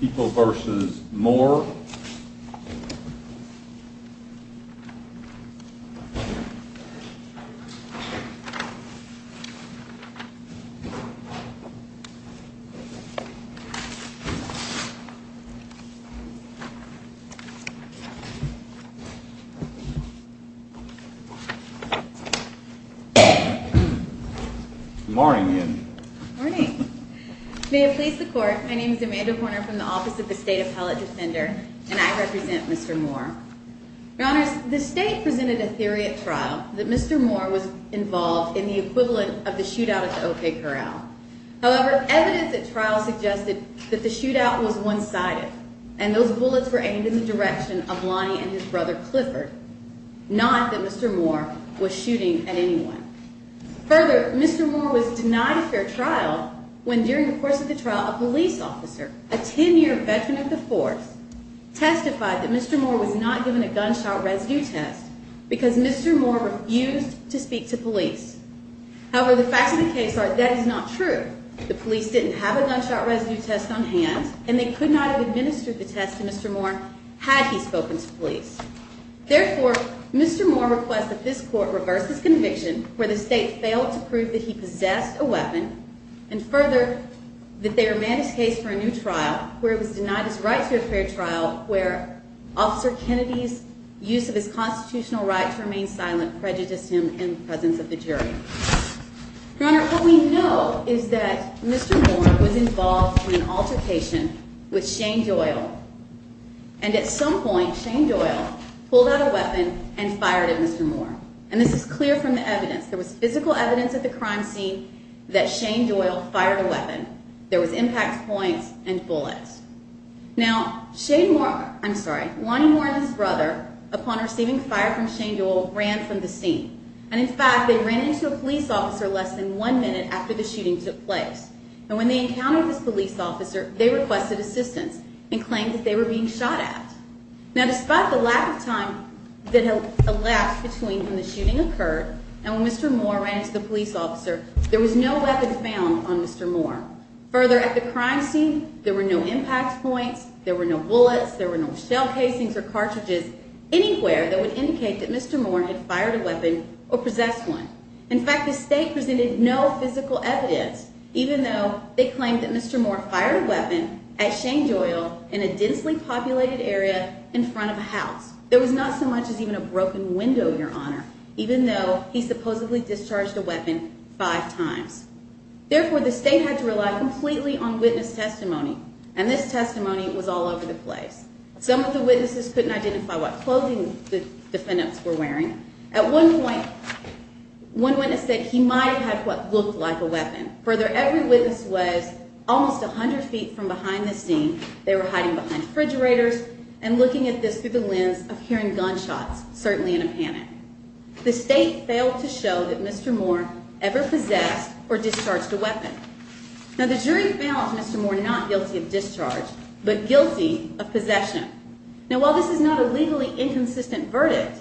People v. Moore Good morning again. May it please the Court, my name is Amanda Poynter from the Office of the State Appellate Defender, and I represent Mr. Moore. Your Honors, the State presented a theory at trial that Mr. Moore was involved in the equivalent of the shootout at the O.K. Corral. However, evidence at trial suggested that the shootout was one-sided, and those bullets were aimed in the direction of Lonnie and his brother Clifford, not that Mr. Moore was shooting at anyone. Further, Mr. Moore was denied a fair trial when, during the course of the trial, a police officer, a ten-year veteran of the force, testified that Mr. Moore was not given a gunshot residue test because Mr. Moore refused to speak to police. However, the facts of the case are that is not true. The police didn't have a gunshot residue test on hand, and they could not have administered the test to Mr. Moore had he spoken to police. Therefore, Mr. Moore requests that this Court reverse his conviction where the State failed to prove that he possessed a weapon, and further, that they remand his case for a new trial where it was denied his right to a fair trial where Officer Kennedy's use of his constitutional right to remain silent prejudiced him in the presence of the jury. Your Honor, what we know is that Mr. Moore was involved in an altercation with Shane Doyle, and at some point, Shane Doyle pulled out a weapon and fired at Mr. Moore. And this is clear from the evidence. There was physical evidence at the crime scene that Shane Doyle fired a weapon. There was impact points and bullets. Now, Shane Moore – I'm sorry, Lonnie Moore and his brother, upon receiving fire from Shane Doyle, ran from the scene. And in fact, they ran into a police officer less than one minute after the shooting took place. And when they encountered this police officer, they requested assistance and claimed that they were being shot at. Now, despite the lack of time that elapsed between when the shooting occurred and when Mr. Moore ran into the police officer, there was no weapon found on Mr. Moore. Further, at the crime scene, there were no impact points, there were no bullets, there were no shell casings or cartridges anywhere that would indicate that Mr. Moore had fired a weapon or possessed one. In fact, the state presented no physical evidence, even though they claimed that Mr. Moore fired a weapon at Shane Doyle in a densely populated area in front of a house. There was not so much as even a broken window, Your Honor, even though he supposedly discharged a weapon five times. Therefore, the state had to rely completely on witness testimony, and this testimony was all over the place. Some of the witnesses couldn't identify what clothing the defendants were wearing. At one point, one witness said he might have had what looked like a weapon. Further, every witness was almost 100 feet from behind the scene. They were hiding behind refrigerators and looking at this through the lens of hearing gunshots, certainly in a panic. The state failed to show that Mr. Moore ever possessed or discharged a weapon. Now, the jury found Mr. Moore not guilty of discharge, but guilty of possession. Now, while this is not a legally inconsistent verdict,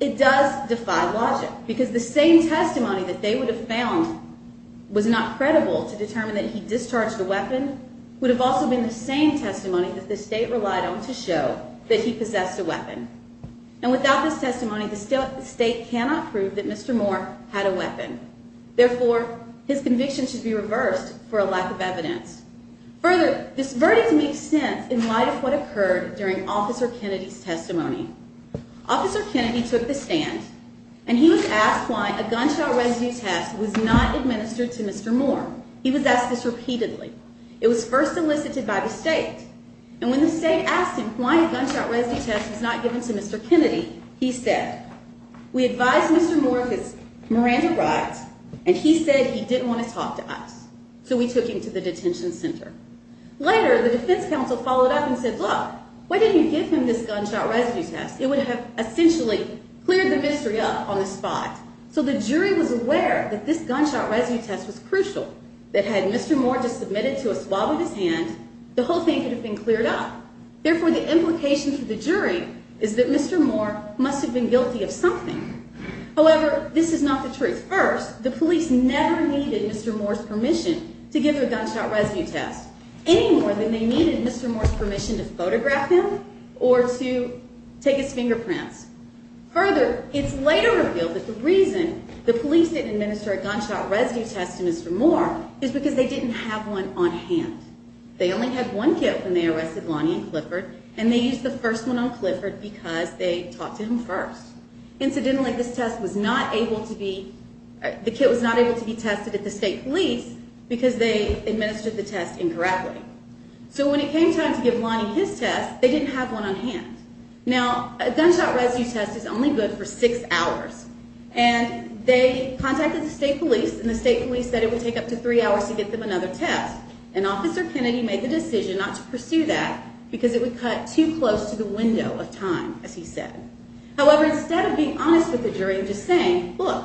it does defy logic, because the same testimony that they would have found was not credible to determine that he discharged a weapon would have also been the same testimony that the state relied on to show that he possessed a weapon. Now, without this testimony, the state cannot prove that Mr. Moore had a weapon. Therefore, his conviction should be reversed for a lack of evidence. Further, this verdict makes sense in light of what occurred during Officer Kennedy's testimony. Officer Kennedy took the stand, and he was asked why a gunshot residue test was not administered to Mr. Moore. He was asked this repeatedly. It was first elicited by the state. And when the state asked him why a gunshot residue test was not given to Mr. Kennedy, he said, we advised Mr. Moore that Miranda rides, and he said he didn't want to talk to us. So we took him to the detention center. Later, the defense counsel followed up and said, look, why didn't you give him this gunshot residue test? It would have essentially cleared the mystery up on the spot. So the jury was aware that this gunshot residue test was crucial, that had Mr. Moore just submitted to a swab of his hand, the whole thing could have been cleared up. Therefore, the implication for the jury is that Mr. Moore must have been guilty of something. However, this is not the truth. First, the police never needed Mr. Moore's permission to give him a gunshot residue test, any more than they needed Mr. Moore's permission to photograph him or to take his fingerprints. Further, it's later revealed that the reason the police didn't administer a gunshot residue test to Mr. Moore is because they didn't have one on hand. They only had one kit when they arrested Lonnie and Clifford, and they used the first one on Clifford because they talked to him first. Incidentally, the kit was not able to be tested at the state police because they administered the test incorrectly. So when it came time to give Lonnie his test, they didn't have one on hand. Now, a gunshot residue test is only good for six hours, and they contacted the state police, and the state police said it would take up to three hours to get them another test. And Officer Kennedy made the decision not to pursue that because it would cut too close to the window of time, as he said. However, instead of being honest with the jury and just saying, look,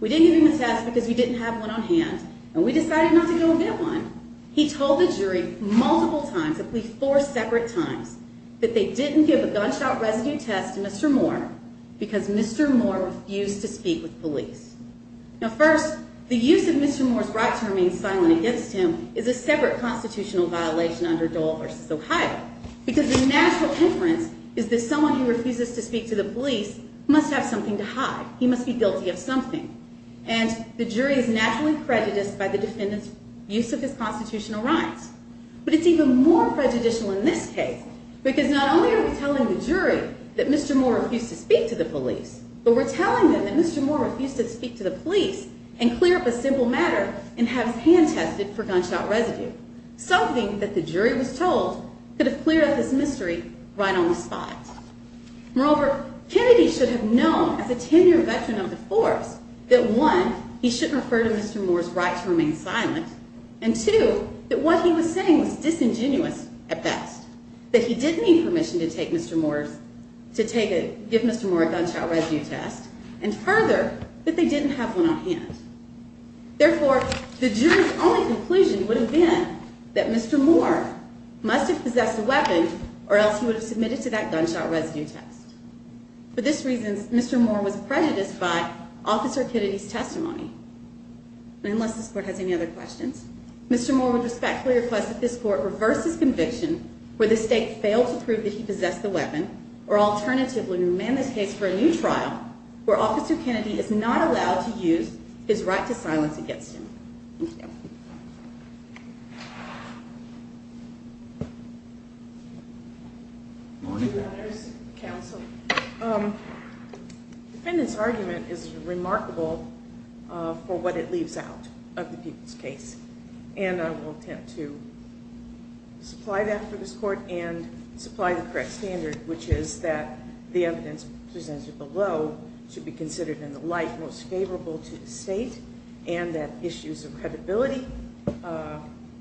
we didn't give him a test because we didn't have one on hand, and we decided not to go and get one, he told the jury multiple times, at least four separate times, that they didn't give a gunshot residue test to Mr. Moore because Mr. Moore refused to speak with police. Now, first, the use of Mr. Moore's right to remain silent against him is a separate constitutional violation under Dole v. Ohio, because the natural inference is that someone who refuses to speak to the police must have something to hide. He must be guilty of something. And the jury is naturally prejudiced by the defendant's use of his constitutional rights. But it's even more prejudicial in this case because not only are we telling the jury that Mr. Moore refused to speak to the police, but we're telling them that Mr. Moore refused to speak to the police and clear up a simple matter and have his hand tested for gunshot residue, something that the jury was told could have cleared up this mystery right on the spot. Moreover, Kennedy should have known as a ten-year veteran of the force that, one, he shouldn't refer to Mr. Moore's right to remain silent, and, two, that what he was saying was disingenuous at best, that he didn't need permission to give Mr. Moore a gunshot residue test, and, further, that they didn't have one on hand. Therefore, the jury's only conclusion would have been that Mr. Moore must have possessed a weapon or else he would have submitted to that gunshot residue test. For this reason, Mr. Moore was prejudiced by Officer Kennedy's testimony. And unless this court has any other questions, Mr. Moore would respectfully request that this court reverse his conviction where the state failed to prove that he possessed the weapon, or alternatively, to remand this case for a new trial where Officer Kennedy is not allowed to use his right to silence against him. Thank you. Good morning, Your Honors. Counsel. The defendant's argument is remarkable for what it leaves out of the people's case. And I will attempt to supply that for this court and supply the correct standard, which is that the evidence presented below should be considered in the light most favorable to the state and that issues of credibility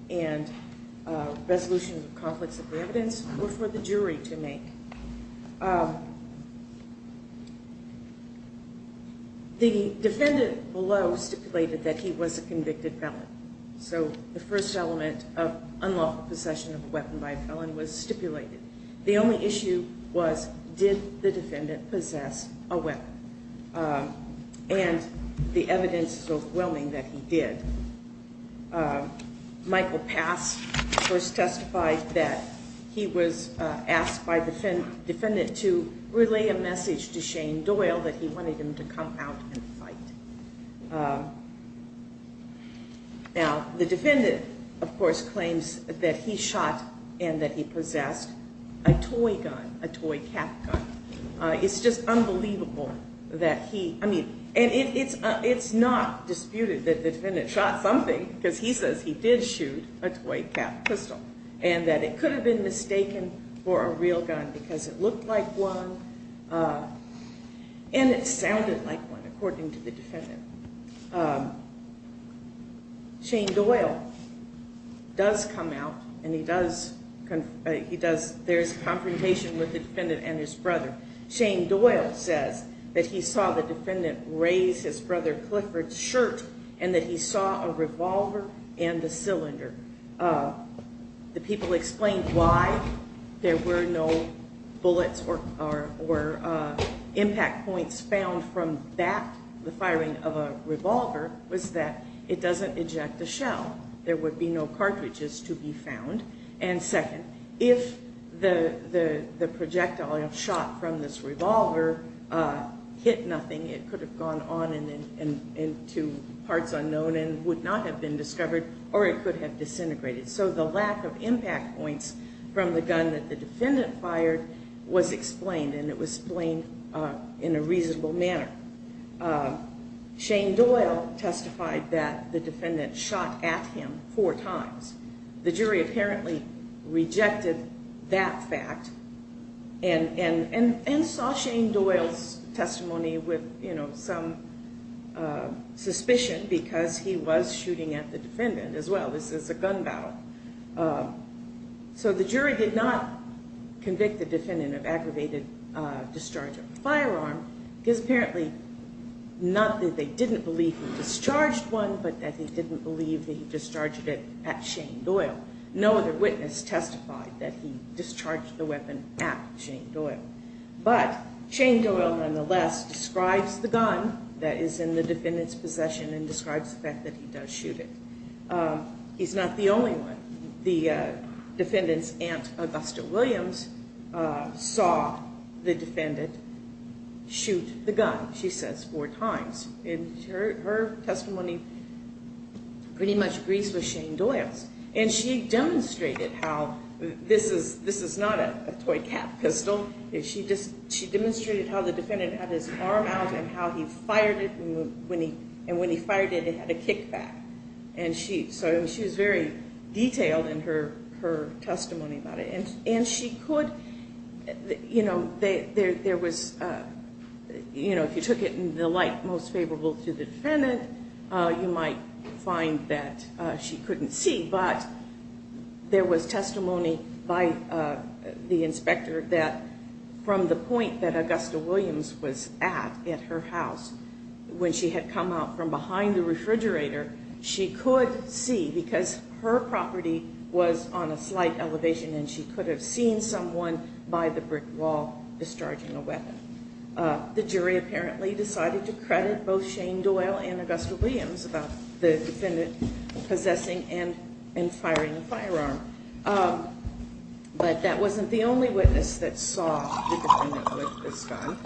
and resolution of conflicts of evidence were for the jury to make. The defendant below stipulated that he was a convicted felon. So the first element of unlawful possession of a weapon by a felon was stipulated. The only issue was, did the defendant possess a weapon? And the evidence is overwhelming that he did. Michael Pass first testified that he was asked by the defendant to relay a message to Shane Doyle that he wanted him to come out and fight. Now, the defendant, of course, claims that he shot and that he possessed a toy gun, a toy cat gun. It's just unbelievable that he, I mean, and it's not disputed that the defendant shot something because he says he did shoot a toy cat pistol and that it could have been mistaken for a real gun because it looked like one and it sounded like one, according to the defendant. Shane Doyle does come out and he does, there's a confrontation with the defendant and his brother. Shane Doyle says that he saw the defendant raise his brother Clifford's shirt and that he saw a revolver and the cylinder. The people explained why there were no bullets or impact points found from that, from the firing of a revolver, was that it doesn't eject a shell. There would be no cartridges to be found. And second, if the projectile shot from this revolver hit nothing, it could have gone on into parts unknown and would not have been discovered or it could have disintegrated. So the lack of impact points from the gun that the defendant fired was explained and it was explained in a reasonable manner. Shane Doyle testified that the defendant shot at him four times. The jury apparently rejected that fact and saw Shane Doyle's testimony with some suspicion because he was shooting at the defendant as well. This is a gun battle. So the jury did not convict the defendant of aggravated discharge of a firearm because apparently not that they didn't believe he discharged one, but that they didn't believe that he discharged it at Shane Doyle. No other witness testified that he discharged the weapon at Shane Doyle. But Shane Doyle, nonetheless, describes the gun that is in the defendant's possession and describes the fact that he does shoot it. He's not the only one. The defendant's aunt, Augusta Williams, saw the defendant shoot the gun, she says, four times. And her testimony pretty much agrees with Shane Doyle's. And she demonstrated how this is not a toy cat pistol. She demonstrated how the defendant had his arm out and how he fired it and when he fired it, it had a kickback. So she was very detailed in her testimony about it. If you took it in the light most favorable to the defendant, you might find that she couldn't see, but there was testimony by the inspector that from the point that Augusta Williams was at, at her house, when she had come out from behind the refrigerator, she could see because her property was on a slight elevation and she could have seen someone by the brick wall discharging a weapon. The jury apparently decided to credit both Shane Doyle and Augusta Williams about the defendant possessing and firing the firearm. But that wasn't the only witness that saw the defendant with this gun.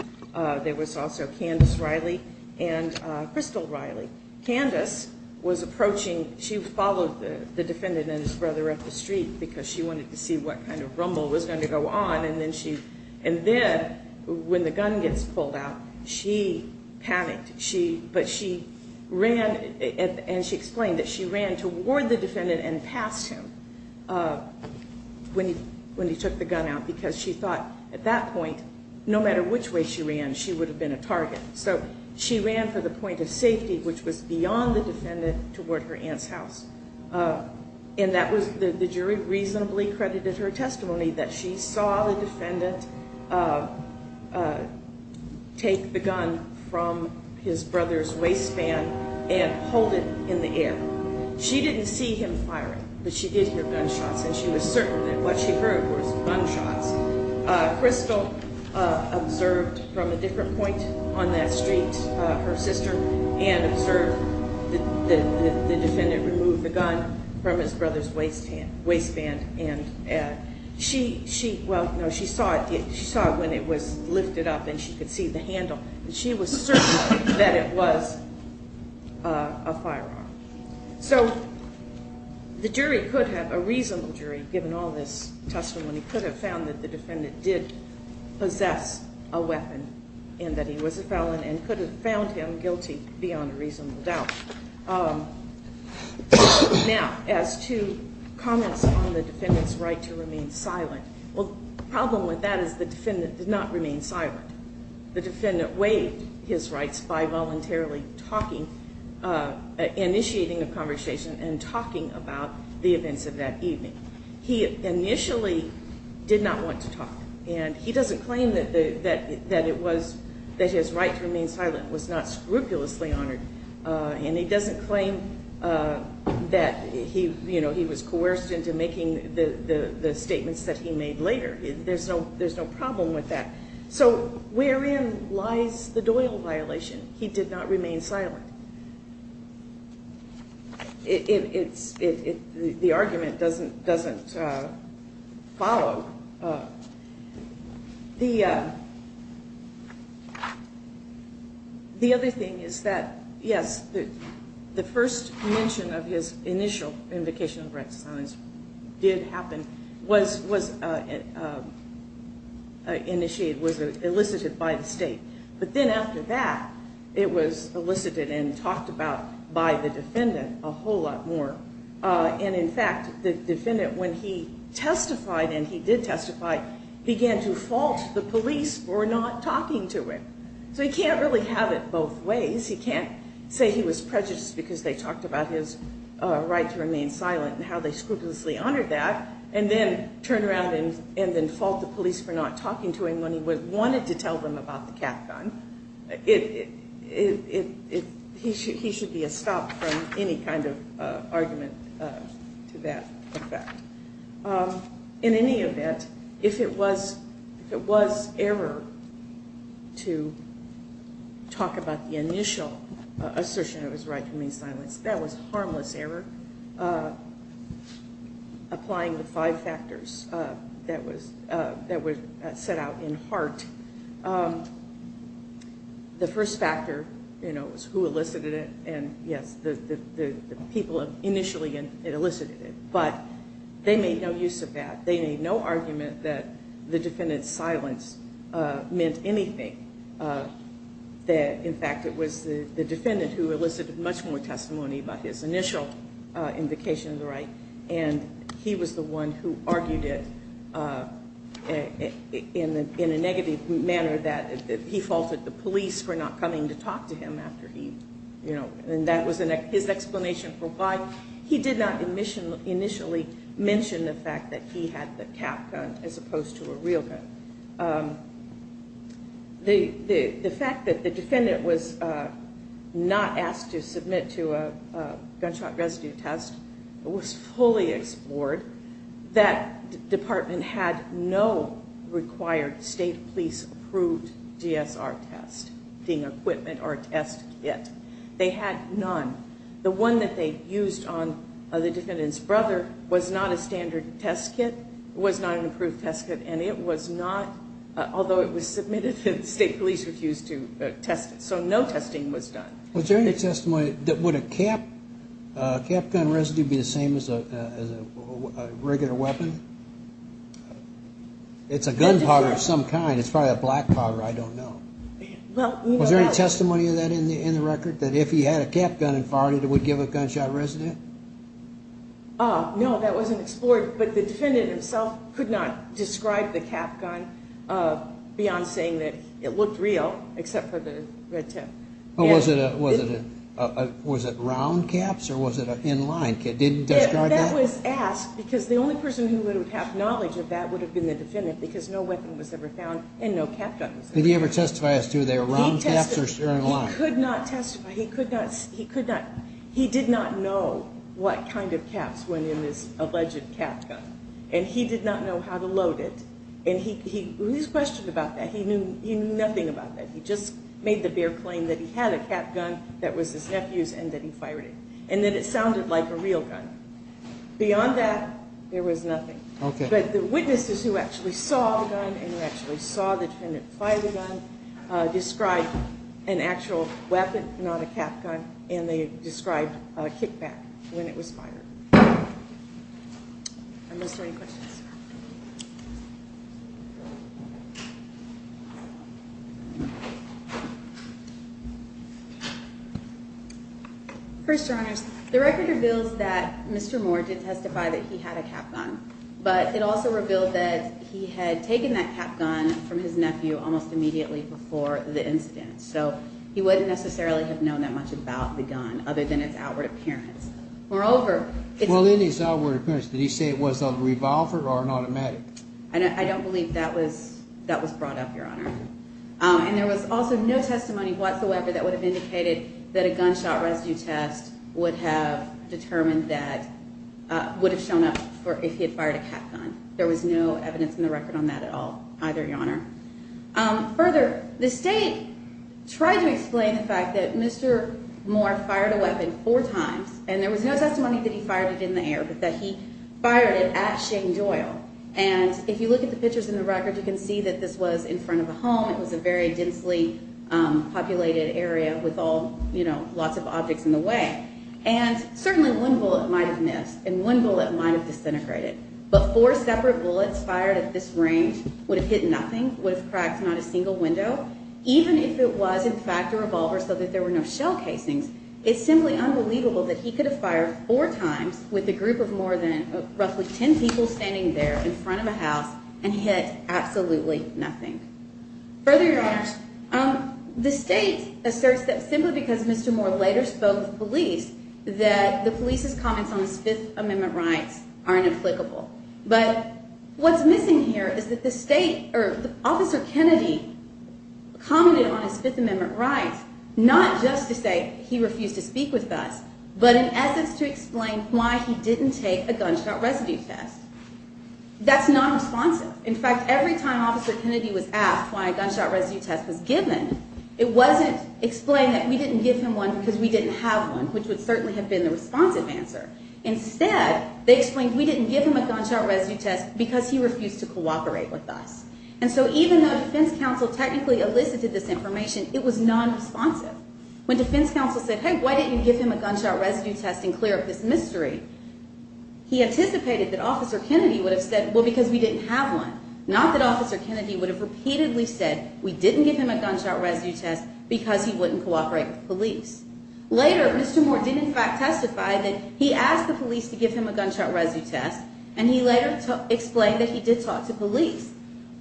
There was also Candace Riley and Crystal Riley. Candace was approaching, she followed the defendant and his brother up the street because she wanted to see what kind of rumble was going to go on and then when the gun gets pulled out, she panicked. But she ran and she explained that she ran toward the defendant and passed him when he took the gun out because she thought at that point, no matter which way she ran, she would have been a target. So she ran for the point of safety, which was beyond the defendant, toward her aunt's house. And the jury reasonably credited her testimony that she saw the defendant take the gun from his brother's waistband and hold it in the air. She didn't see him firing, but she did hear gunshots and she was certain that what she heard was gunshots. Crystal observed from a different point on that street, her sister, and observed the defendant remove the gun from his brother's waistband. She saw it when it was lifted up and she could see the handle. She was certain that it was a firearm. So the jury could have, a reasonable jury, given all this testimony, could have found that the defendant did possess a weapon and that he was a felon and could have found him guilty beyond a reasonable doubt. Now, as to comments on the defendant's right to remain silent, well, the problem with that is the defendant did not remain silent. The defendant waived his rights by voluntarily talking, initiating a conversation and talking about the events of that evening. He initially did not want to talk and he doesn't claim that his right to remain silent was not scrupulously honored and he doesn't claim that he was coerced into making the statements that he made later. There's no problem with that. So wherein lies the Doyle violation? He did not remain silent. But the argument doesn't follow. The other thing is that, yes, the first mention of his initial invocation of the right to remain silent did happen, was initiated, was elicited by the state. But then after that, it was elicited and talked about by the defendant a whole lot more. And, in fact, the defendant, when he testified and he did testify, began to fault the police for not talking to him. So he can't really have it both ways. He can't say he was prejudiced because they talked about his right to remain silent and how they scrupulously honored that and then turn around and then fault the police for not talking to him when he wanted to tell them about the cat gun. He should be stopped from any kind of argument to that effect. In any event, if it was error to talk about the initial assertion of his right to remain silent, that was harmless error, applying the five factors that were set out in HART. The first factor was who elicited it. And, yes, the people initially that elicited it. But they made no use of that. They made no argument that the defendant's silence meant anything, that, in fact, it was the defendant who elicited much more testimony by his initial invocation of the right, and he was the one who argued it in a negative manner that he faulted the police for not coming to talk to him after he, you know. And that was his explanation for why he did not initially mention the fact that he had the cat gun as opposed to a real gun. The fact that the defendant was not asked to submit to a gunshot residue test was fully explored. That department had no required state police approved GSR test, being equipment or test kit. They had none. The one that they used on the defendant's brother was not a standard test kit, was not an approved test kit, and it was not, although it was submitted that the state police refused to test it. So no testing was done. Was there any testimony that would a cat gun residue be the same as a regular weapon? It's a gun powder of some kind. It's probably a black powder. I don't know. Was there any testimony of that in the record, that if he had a cat gun and fired it, it would give a gunshot residue? No, that wasn't explored. But the defendant himself could not describe the cat gun beyond saying that it looked real, except for the red tip. Was it round caps or was it in line? Did he describe that? That was asked because the only person who would have knowledge of that would have been the defendant because no weapon was ever found and no cat gun was ever found. Did he ever testify as to whether they were round caps or in line? He could not testify. He did not know what kind of caps went in this alleged cat gun, and he did not know how to load it. And he was questioned about that. He knew nothing about that. He just made the bare claim that he had a cat gun that was his nephew's and that he fired it, and that it sounded like a real gun. Beyond that, there was nothing. But the witnesses who actually saw the gun and who actually saw the defendant fire the gun, described an actual weapon, not a cat gun, and they described a kickback when it was fired. Are there any questions? First, Your Honors, the record reveals that Mr. Moore did testify that he had a cat gun, but it also revealed that he had taken that cat gun from his nephew almost immediately before the incident. So he wouldn't necessarily have known that much about the gun other than its outward appearance. Moreover, it's... Well, in his outward appearance, did he say it was a revolver or an automatic? I don't believe that was brought up, Your Honor. And there was also no testimony whatsoever that would have indicated that a gunshot rescue test would have determined that, would have shown up if he had fired a cat gun. There was no evidence in the record on that at all either, Your Honor. Further, the state tried to explain the fact that Mr. Moore fired a weapon four times, and there was no testimony that he fired it in the air, but that he fired it at Shane Doyle. And if you look at the pictures in the record, you can see that this was in front of a home. It was a very densely populated area with lots of objects in the way. And certainly one bullet might have missed, and one bullet might have disintegrated. But four separate bullets fired at this range would have hit nothing, would have cracked not a single window. Even if it was, in fact, a revolver so that there were no shell casings, it's simply unbelievable that he could have fired four times with a group of more than roughly 10 people standing there in front of a house and hit absolutely nothing. Further, Your Honors, the state asserts that simply because Mr. Moore later spoke with police, that the police's comments on his Fifth Amendment rights are inapplicable. But what's missing here is that the state, or Officer Kennedy, commented on his Fifth Amendment rights, not just to say he refused to speak with us, but in essence to explain why he didn't take a gunshot residue test. That's not responsive. In fact, every time Officer Kennedy was asked why a gunshot residue test was given, it wasn't explained that we didn't give him one because we didn't have one, which would certainly have been the responsive answer. Instead, they explained we didn't give him a gunshot residue test because he refused to cooperate with us. And so even though defense counsel technically elicited this information, it was nonresponsive. When defense counsel said, hey, why didn't you give him a gunshot residue test and clear up this mystery, he anticipated that Officer Kennedy would have said, well, because we didn't have one, not that Officer Kennedy would have repeatedly said we didn't give him a gunshot residue test because he wouldn't cooperate with police. Later, Mr. Moore did in fact testify that he asked the police to give him a gunshot residue test, and he later explained that he did talk to police.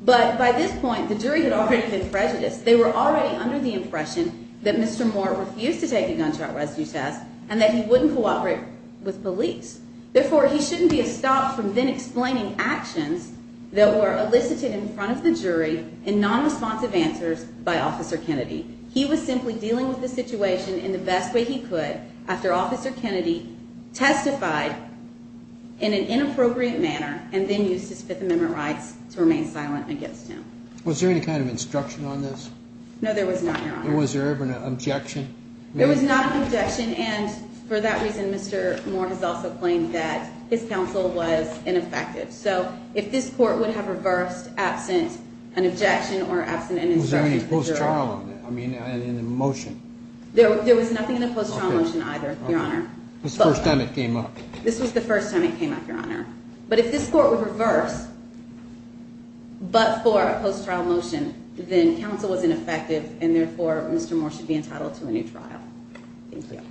But by this point, the jury had already been prejudiced. They were already under the impression that Mr. Moore refused to take a gunshot residue test and that he wouldn't cooperate with police. Therefore, he shouldn't be stopped from then explaining actions that were elicited in front of the jury in nonresponsive answers by Officer Kennedy. He was simply dealing with the situation in the best way he could after Officer Kennedy testified in an inappropriate manner and then used his Fifth Amendment rights to remain silent against him. Was there any kind of instruction on this? No, there was not, Your Honor. And was there ever an objection? There was not an objection, and for that reason, Mr. Moore has also claimed that his counsel was ineffective. So if this court would have reversed absent an objection or absent an instruction from the jury. Was there any post-trial, I mean, in the motion? There was nothing in the post-trial motion either, Your Honor. This was the first time it came up. This was the first time it came up, Your Honor. But if this court would reverse but for a post-trial motion, then counsel was ineffective, and therefore, Mr. Moore should be entitled to a new trial. Thank you.